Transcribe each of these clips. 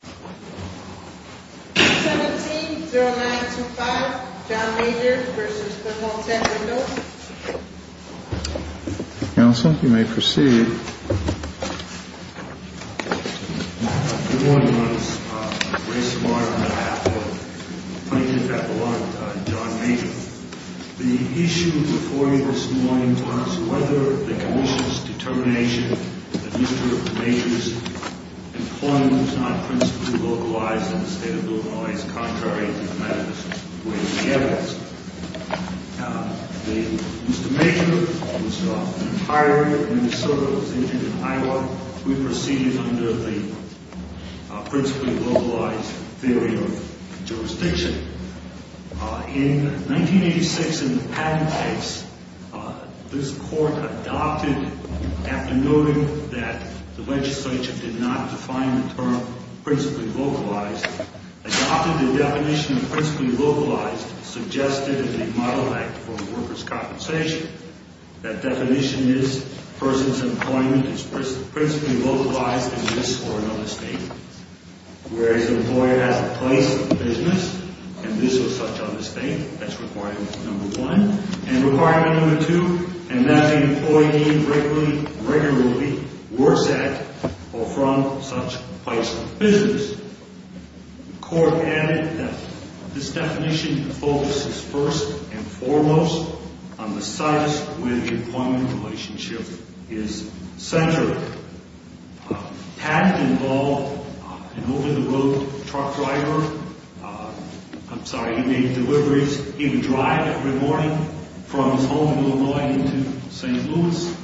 17-0925 John Major v. Thermo-Tech Windows Council, you may proceed. Good morning, ladies and gentlemen. I'm Grace Martin, and I have the plaintiff at the line, John Major. The issue before you this morning was whether the commission's determination that Mr. Major's employment was not principally localized in the state of Illinois is contrary to the evidence. Mr. Major was hired in Minnesota, was injured in Iowa. We proceeded under the principally localized theory of jurisdiction. In 1986, in the Patton case, this court adopted, after noting that the legislature did not define the term principally localized, adopted the definition of principally localized, suggested in the Model Act for Workers' Compensation. That definition is a person's employment is principally localized in this or another state. Whereas an employer has a place of business in this or such other state, that's requirement number one. And requirement number two, and that the employee being regularly works at or from such a place of business. The court added that this definition focuses first and foremost on the status where the employment relationship is centered. Patton involved an over-the-road truck driver. I'm sorry, he made deliveries. He would drive every morning from his home in Illinois into St. Louis,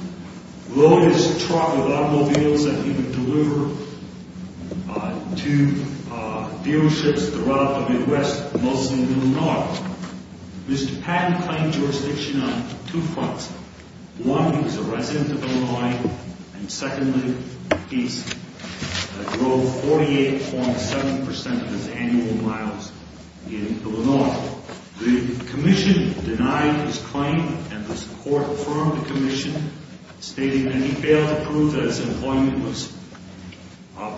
load his truck with automobiles that he would deliver to dealerships throughout the Midwest, mostly in Illinois. Mr. Patton claimed jurisdiction on two fronts. One, he was a resident of Illinois, and secondly, he drove 48.7% of his annual miles in Illinois. The commission denied his claim, and this court affirmed the commission, stating that he failed to prove that his employment was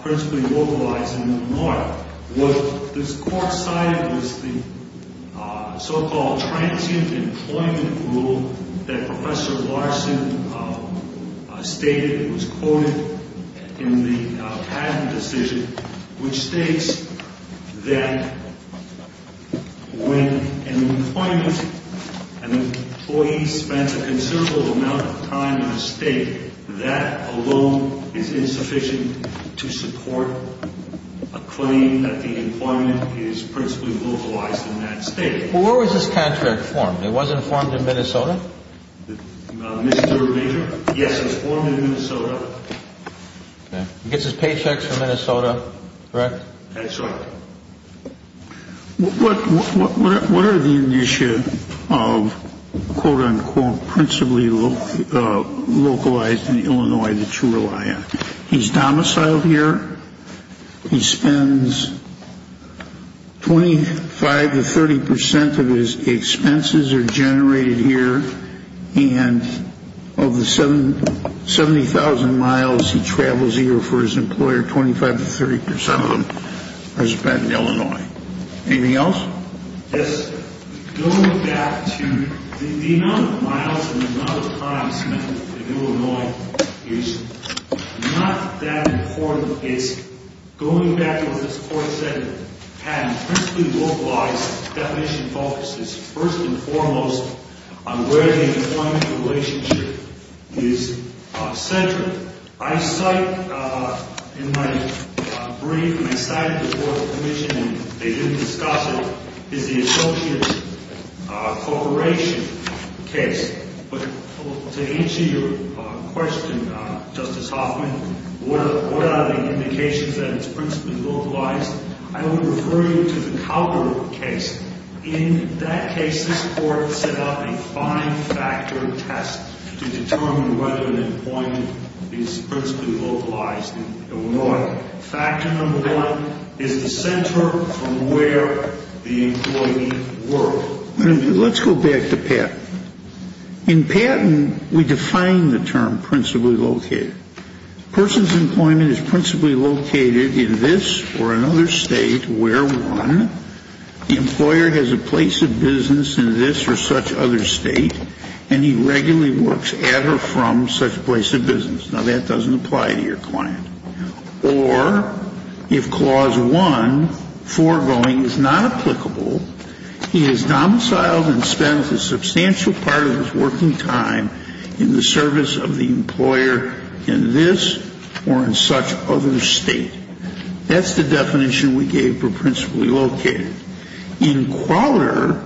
principally localized in Illinois. However, what this court cited was the so-called transient employment rule that Professor Larson stated. It was quoted in the Patton decision, which states that when an employee spends a considerable amount of time in a state, that alone is insufficient to support a claim that the employment is principally localized in that state. Well, where was this contract formed? It wasn't formed in Minnesota? Mr. Major? Yes, it was formed in Minnesota. He gets his paychecks from Minnesota, correct? That's right. What are the initiatives of quote-unquote principally localized in Illinois that you rely on? He's domiciled here. He spends 25 to 30% of his expenses are generated here, and of the 70,000 miles he travels a year for his employer, 25 to 30% of them are spent in Illinois. Anything else? Yes, going back to the amount of miles and the amount of time spent in Illinois is not that important. Going back to what this court said, Patton, principally localized definition focuses first and foremost on where the employment relationship is centered. I cite in my brief, and I cited this before the commission, and they didn't discuss it, is the associate corporation case. But to answer your question, Justice Hoffman, what are the indications that it's principally localized? I would refer you to the Cowper case. In that case, this court set up a five-factor test to determine whether an employment is principally localized in Illinois. Factor number one is the center from where the employee worked. So let's go back to Patton. In Patton, we define the term principally located. A person's employment is principally located in this or another state where one, the employer, has a place of business in this or such other state, and he regularly works at or from such a place of business. Now, that doesn't apply to your client. Or if clause one, foregoing, is not applicable, he is domiciled and spends a substantial part of his working time in the service of the employer in this or in such other state. That's the definition we gave for principally located. In Crowder,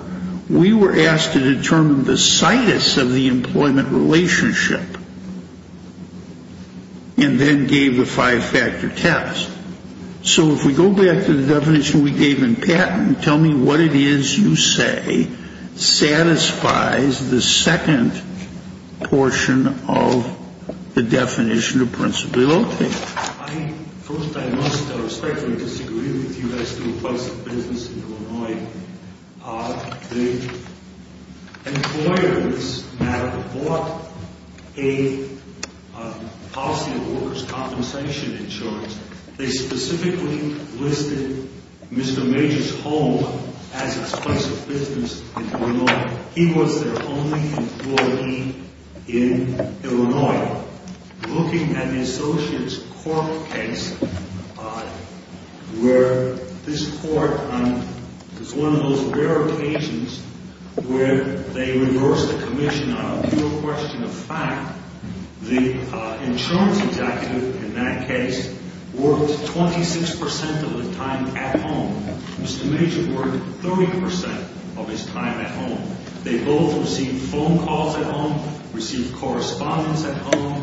we were asked to determine the situs of the employment relationship and then gave the five-factor test. So if we go back to the definition we gave in Patton, tell me what it is you say satisfies the second portion of the definition of principally located. First, I must respectfully disagree with you as to a place of business in Illinois. The employers that bought a policy of workers' compensation insurance, they specifically listed Mr. Major's home as its place of business in Illinois. He was their only employee in Illinois. Now, looking at the Associates Court case, where this court is one of those rare occasions where they reverse the commission on a mere question of fact, the insurance executive in that case worked 26 percent of the time at home. Mr. Major worked 30 percent of his time at home. They both received phone calls at home, received correspondence at home.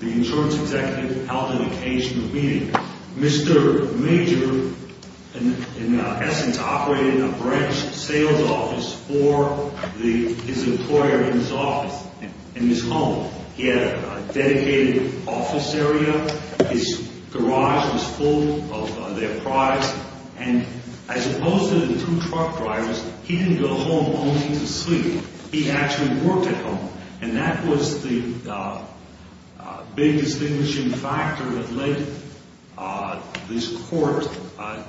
The insurance executive held an occasional meeting. Mr. Major, in essence, operated a branch sales office for his employer in his home. He had a dedicated office area. His garage was full of their products. And as opposed to the two truck drivers, he didn't go home only to sleep. He actually worked at home. And that was the big distinguishing factor that led this court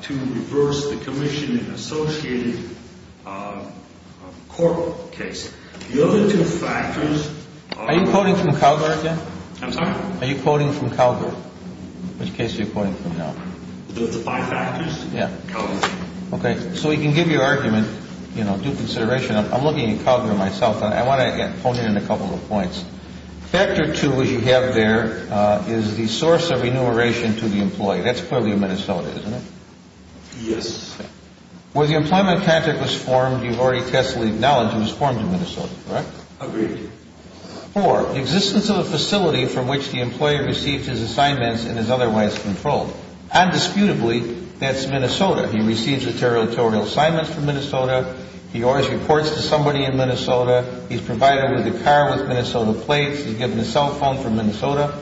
to reverse the commission in the Associated Court case. The other two factors are... Are you quoting from Calgary again? I'm sorry? Are you quoting from Calgary? Which case are you quoting from now? The five factors? Yeah. Calgary. Okay. So we can give you argument, you know, due consideration. I'm looking at Calgary myself. I want to hone in on a couple of points. Factor two, as you have there, is the source of remuneration to the employee. That's clearly in Minnesota, isn't it? Yes. Where the employment contract was formed, you've already testally acknowledged it was formed in Minnesota, correct? Agreed. Four, existence of a facility from which the employer received his assignments and is otherwise controlled. Undisputably, that's Minnesota. He receives the territorial assignments from Minnesota. He always reports to somebody in Minnesota. He's provided with a car with Minnesota plates. He's given a cell phone from Minnesota.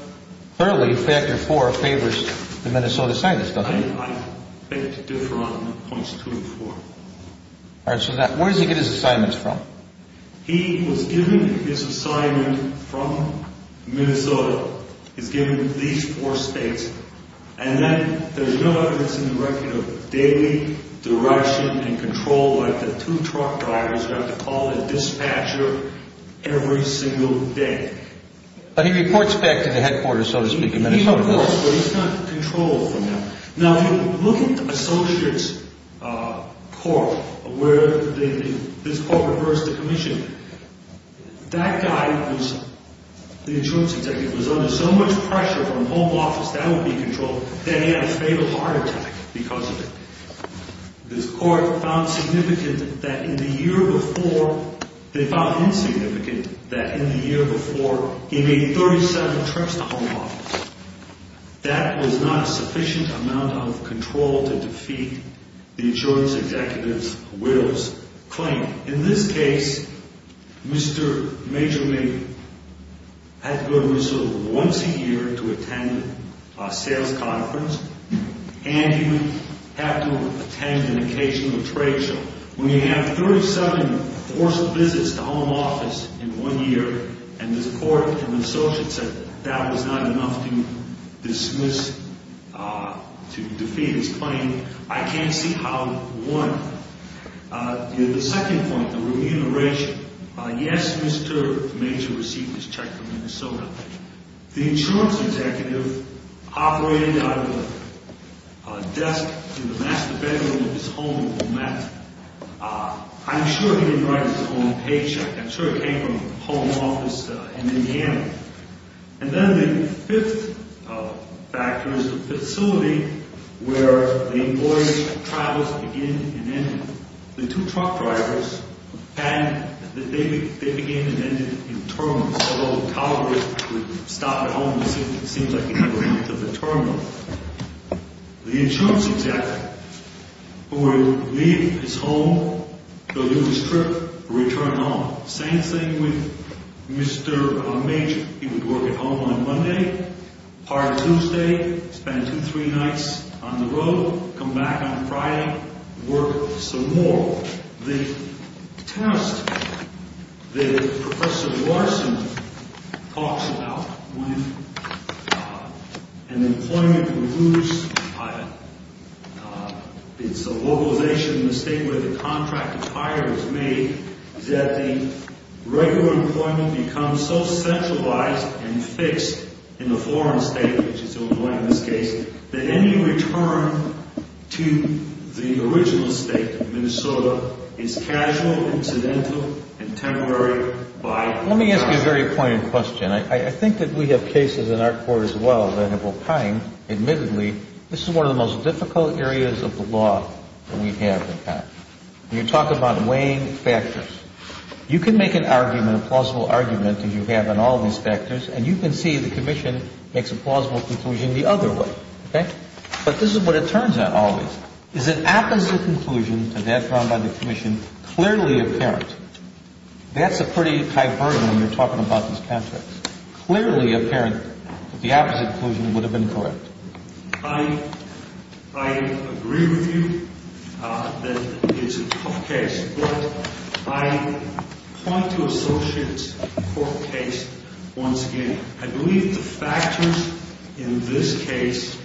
Clearly, factor four favors the Minnesota scientist, doesn't he? I think it's different on points two and four. All right. So where does he get his assignments from? He was given his assignment from Minnesota. He's given at least four states. And then there's no evidence in the record of daily direction and control like the two truck drivers who have to call the dispatcher every single day. But he reports back to the headquarters, so to speak, in Minnesota. He reports, but he's not controlled from them. Now, if you look at the associate's court where this court reversed the commission, that guy, the insurance executive, was under so much pressure from home office that would be controlled that he had a fatal heart attack because of it. This court found significant that in the year before he made 37 trips to home office. That was not a sufficient amount of control to defeat the insurance executive's widow's claim. In this case, Mr. Major Lee had to go to Minnesota once a year to attend a sales conference, and he had to attend an occasional trade show. When you have 37 forced visits to home office in one year, and this court and the associates said that was not enough to dismiss, to defeat his claim, I can't see how one could. The second point, the remuneration. Yes, Mr. Major received his check from Minnesota. The insurance executive operated out of a desk in the master bedroom of his home in Omaha. I'm sure he didn't write his own paycheck. I'm sure he came from home office in Indiana. And then the fifth factor is the facility where the voyage travels begin and end. The two truck drivers had that they began and ended in a terminal. So Calgary would stop at home. The insurance executive would leave his home, go do his trip, return home. Same thing with Mr. Major. He would work at home on Monday, part Tuesday, spend two, three nights on the road, come back on Friday, work some more. The test that Professor Larson talks about when an employment moves, it's a localization mistake where the contract of hire is made, is that the regular employment becomes so centralized and fixed in the foreign state, which is the only way in this case, that any return to the original state of Minnesota is casual, incidental, and temporary. Let me ask you a very poignant question. I think that we have cases in our court as well that have opined, admittedly, this is one of the most difficult areas of the law that we have in Congress. When you talk about weighing factors, you can make an argument, a plausible argument that you have on all these factors, and you can see the commission makes a plausible conclusion the other way. But this is what it turns out always, is an opposite conclusion to that found by the commission clearly apparent. That's a pretty tight burden when you're talking about these contracts. Clearly apparent that the opposite conclusion would have been correct. I agree with you that it's a tough case. But I point to Associates' court case once again. I believe the factors in this case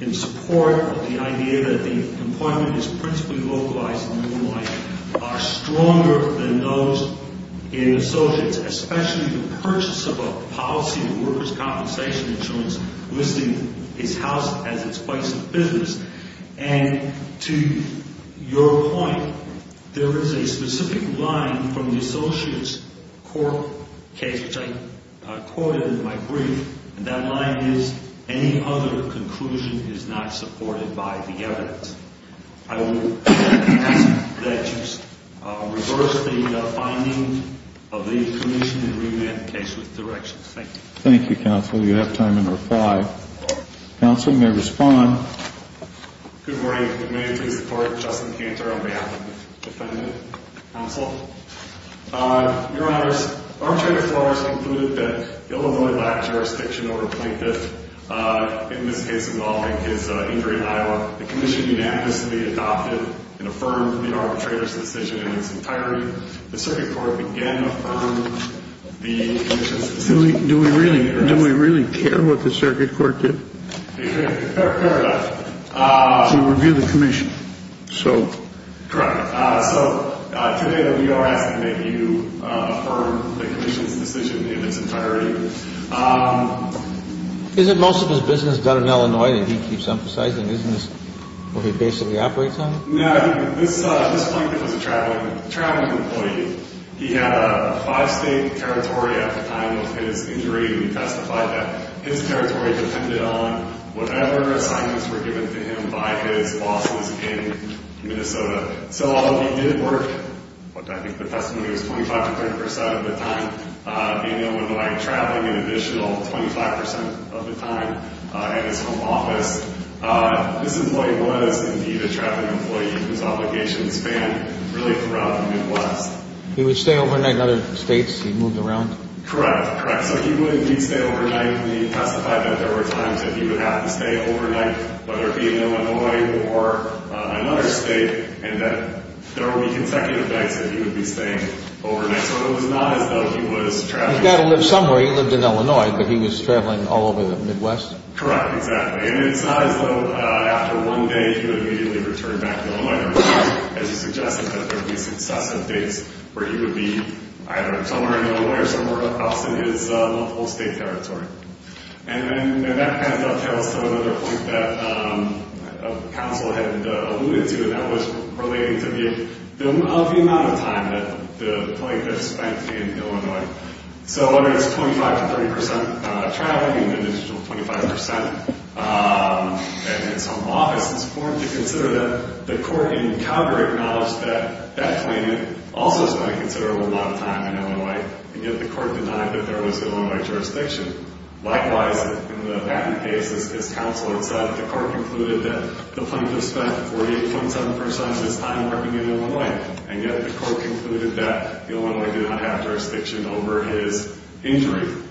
in support of the idea that the employment is principally localized and normalized are stronger than those in Associates, especially the purchase of a policy of workers' compensation insurance, listing his house as its place of business. And to your point, there is a specific line from the Associates' court case, which I quoted in my brief, and that line is, any other conclusion is not supported by the evidence. I will ask that you reverse the finding of the commission and revamp the case with directions. Thank you. Thank you, counsel. You have time under five. Counsel, you may respond. Good morning. May it please the Court? Justin Cantor on behalf of the defendant. Counsel. Your Honors, Armchair McClure has concluded that Illinois lacked jurisdiction over Plinkett, in this case involving his injury in Iowa. The commission unanimously adopted and affirmed the arbitrator's decision in its entirety. The circuit court began to affirm the commission's decision. Do we really care what the circuit court did? We care a lot. To review the commission. Correct. So today we are asking that you affirm the commission's decision in its entirety. Isn't most of his business done in Illinois that he keeps emphasizing? Isn't this what he basically operates on? No. This Plinkett was a traveling employee. He had a five-state territory at the time of his injury. We testified that his territory depended on whatever assignments were given to him by his bosses in Minnesota. So although he did work, I think the testimony was 25 to 30 percent of the time, being in Illinois traveling an additional 25 percent of the time at his home office. This employee was indeed a traveling employee whose obligations spanned really throughout the Midwest. He would stay overnight in other states? He moved around? Correct. Correct. So he would indeed stay overnight. We testified that there were times that he would have to stay overnight, whether it be in Illinois or another state, and that there would be consecutive nights that he would be staying overnight. So it was not as though he was traveling. He's got to live somewhere. He lived in Illinois, but he was traveling all over the Midwest? Correct. Exactly. And it's not as though after one day he would immediately return back to Illinois. As you suggested, that there would be successive days where he would be either somewhere in Illinois or somewhere else in his multiple-state territory. And that kind of dovetails to another point that counsel had alluded to, and that was relating to the amount of time that the plaintiff spent in Illinois. So whether it's 25 to 30 percent traveling, an additional 25 percent at his home office, it's important to consider that the court in Calgary acknowledged that that plaintiff also spent a considerable amount of time in Illinois, and yet the court denied that there was Illinois jurisdiction. Likewise, in the Batten case, as counsel had said, the court concluded that the plaintiff spent 48.7 percent of his time working in Illinois, and yet the court concluded that the Illinois did not have jurisdiction over his injury.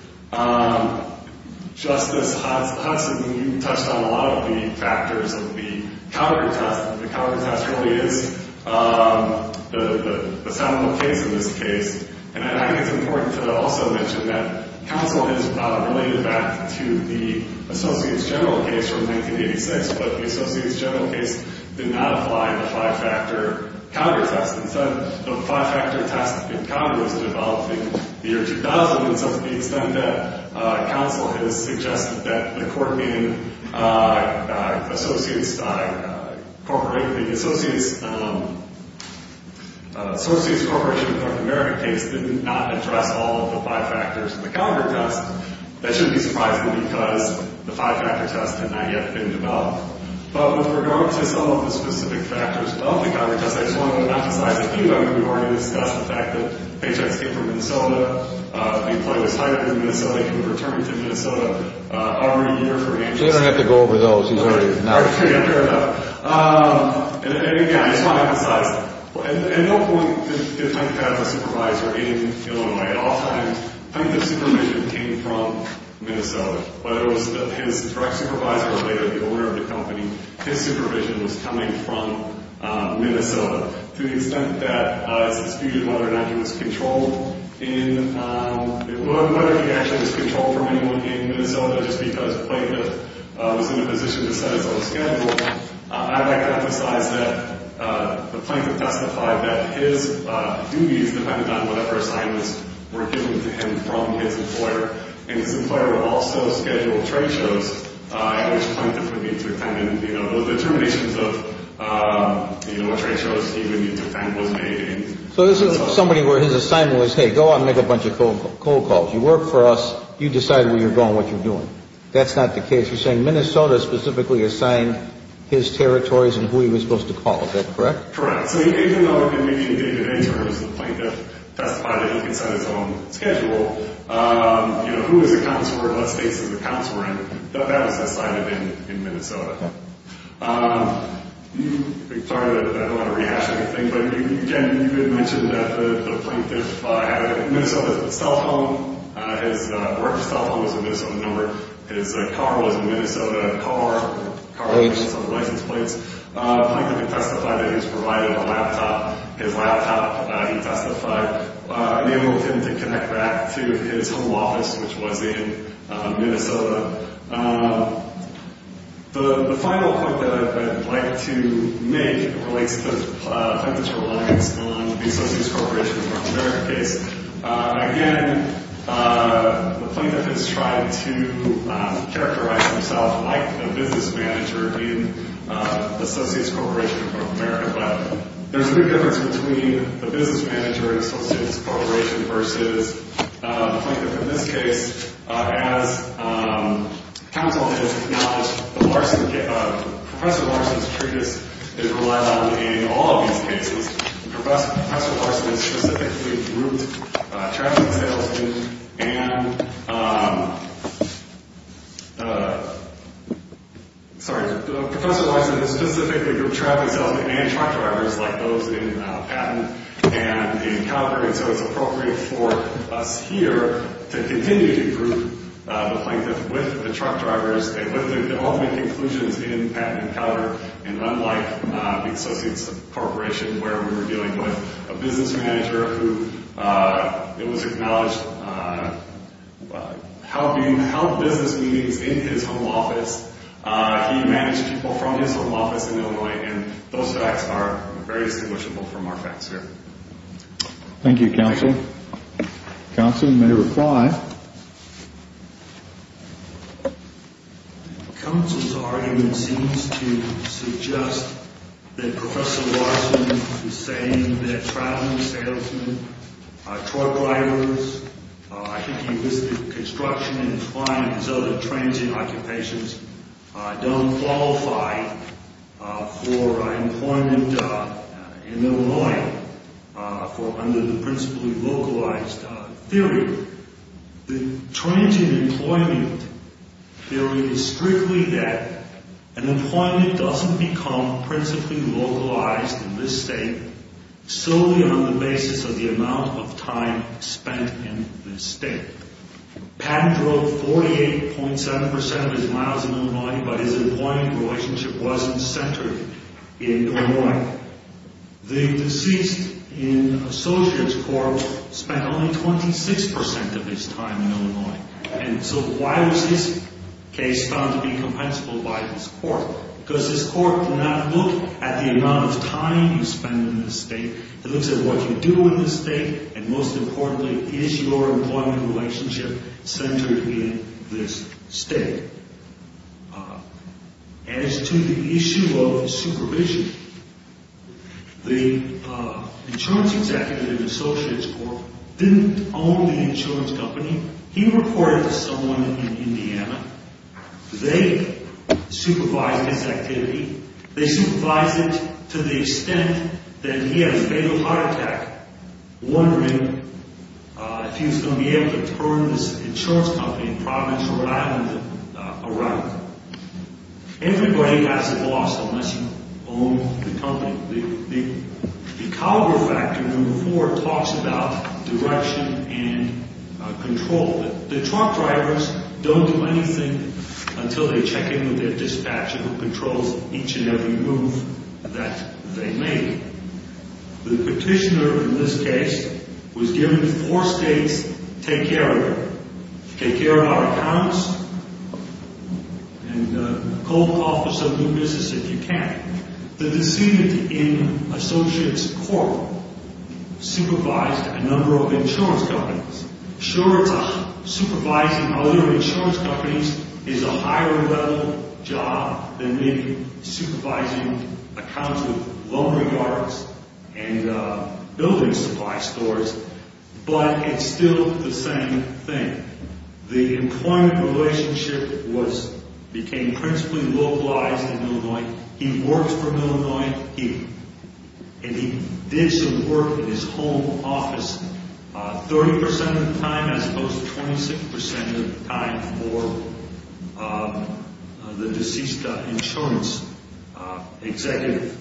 Justice Hudson, you touched on a lot of the factors of the Calgary test, and the Calgary test really is the sum of the case in this case. And I think it's important to also mention that counsel has related that to the Associates General case from 1986, but the Associates General case did not apply in the five-factor Calgary test. Instead, the five-factor test in Calgary was developed in the year 2000, and to the extent that counsel has suggested that the court being Associates Corporation, the Associates Corporation of North America case did not address all of the five factors in the Calgary test, that shouldn't be surprising because the five-factor test had not yet been developed. But with regard to some of the specific factors of the Calgary test, I just wanted to emphasize a few of them. We've already discussed the fact that HX came from Minnesota. The employee was hired in Minnesota. He could have returned to Minnesota already a year from HNC. He doesn't have to go over those. He's already an artist. Yeah, fair enough. And again, I just want to emphasize, at no point did Hunt have a supervisor in Illinois. At all times, Plaintiff's supervision came from Minnesota. Whether it was his direct supervisor or later the owner of the company, his supervision was coming from Minnesota. To the extent that it's disputed whether or not he was controlled in – whether he actually was controlled from anyone in Minnesota just because Plaintiff was in a position to set his own schedule, I'd like to emphasize that the Plaintiff testified that his duties depended on whatever assignments were given to him from his employer. And his employer would also schedule trade shows at which Plaintiff would be dependent. You know, the determinations of trade shows he would need to attend was made in Minnesota. So this is somebody where his assignment was, hey, go out and make a bunch of cold calls. You work for us. You decide where you're going, what you're doing. That's not the case. You're saying Minnesota specifically assigned his territories and who he was supposed to call, is that correct? Correct. So even though in any terms the Plaintiff testified that he could set his own schedule, you know, who is a counselor, what states is a counselor in, that was decided in Minnesota. Sorry, I don't want to rehash anything, but again, you had mentioned that the Plaintiff had a – his work cell phone was a Minnesota number. His car was a Minnesota car, car license plates. Plaintiff had testified that he was provided a laptop. His laptop, he testified, enabled him to connect back to his home office, which was in Minnesota. The final point that I'd like to make relates to Plaintiff's reliance on the Associates Corporation of North America case. Again, the Plaintiff has tried to characterize himself like a business manager in the Associates Corporation of North America, but there's a big difference between the business manager in Associates Corporation versus the Plaintiff in this case. As counsel has acknowledged, the Larson – Professor Larson's treatise is relied on in all of these cases. Professor Larson has specifically grouped traffic salesmen and – sorry, Professor Larson has specifically grouped traffic salesmen and truck drivers like those in Patton and in Cotter, and so it's appropriate for us here to continue to group the Plaintiff with the truck drivers with the ultimate conclusions in Patton and Cotter and unlike the Associates Corporation where we were dealing with a business manager who it was acknowledged helped business meetings in his home office. He managed people from his home office in Illinois, and those facts are very distinguishable from our facts here. Thank you, counsel. Counsel may reply. Counsel's argument seems to suggest that Professor Larson is saying that traffic salesmen, truck drivers, I think he listed construction and flying as other transient occupations, don't qualify for employment in Illinois for under the principally localized theory. The transient employment theory is strictly that an employment doesn't become principally localized in this state solely on the basis of the amount of time spent in this state. Patton drove 48.7% of his miles in Illinois, but his employment relationship wasn't centered in Illinois. The deceased in Associates Corp spent only 26% of his time in Illinois, and so why was his case found to be compensable by this court? Because this court did not look at the amount of time you spend in this state. It looks at what you do in this state, and most importantly, is your employment relationship centered in this state? As to the issue of supervision, the insurance executive in Associates Corp didn't own the insurance company. He reported to someone in Indiana. They supervised his activity. They supervised it to the extent that he had a fatal heart attack, wondering if he was going to be able to turn this insurance company in Providence, Rhode Island, around. Everybody has a boss unless you own the company. The Calgary Factor No. 4 talks about direction and control. The truck drivers don't do anything until they check in with their dispatcher, who controls each and every move that they make. The petitioner in this case was given four states to take care of it. Take care of our accounts, and call the Office of New Business if you can. The deceased in Associates Corp supervised a number of insurance companies. Sure, supervising other insurance companies is a higher-level job than maybe supervising accounts of laundry yards and building supply stores, but it's still the same thing. The employment relationship became principally localized in Illinois. He worked for Illinois here, and he did some work in his home office. 30% of the time, as opposed to 26% of the time, for the deceased insurance executive.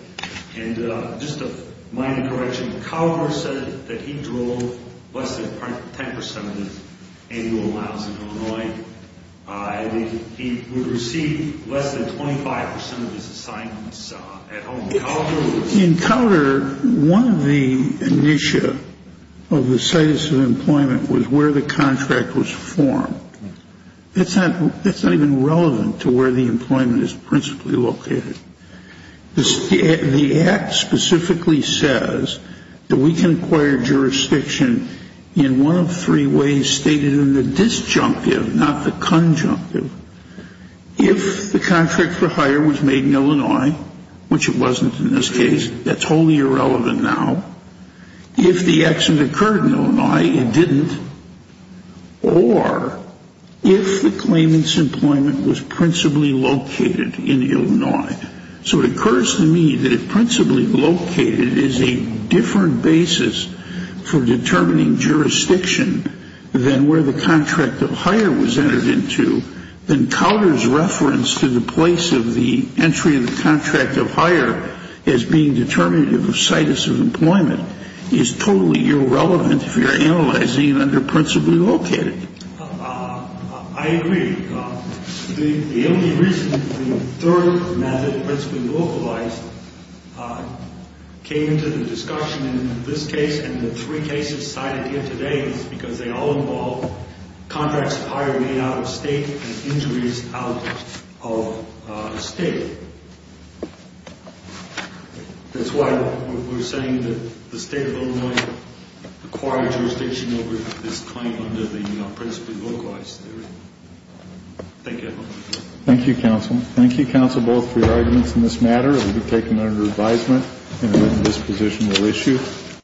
And just a minor correction, Calgary said that he drove less than 10% of his annual miles in Illinois. He would receive less than 25% of his assignments at home. In Calgary, one of the initia of the status of employment was where the contract was formed. That's not even relevant to where the employment is principally located. The Act specifically says that we can acquire jurisdiction in one of three ways stated in the disjunctive, not the conjunctive. If the contract for hire was made in Illinois, which it wasn't in this case, that's wholly irrelevant now. If the accident occurred in Illinois, it didn't. Or if the claimant's employment was principally located in Illinois. So it occurs to me that if principally located is a different basis for determining jurisdiction than where the contract of hire was entered into, then Calgary's reference to the place of the entry of the contract of hire as being determinative of status of employment is totally irrelevant if you're analyzing under principally located. I agree. The only reason the third method, principally localized, came into the discussion in this case and the three cases cited here today is because they all involve contracts of hire made out of state and injuries out of state. That's why we're saying that the state of Illinois acquired jurisdiction over this claim under the principally localized theory. Thank you. Thank you, counsel. Thank you, counsel, both for your arguments in this matter. It will be taken under advisement in a written dispositional issue.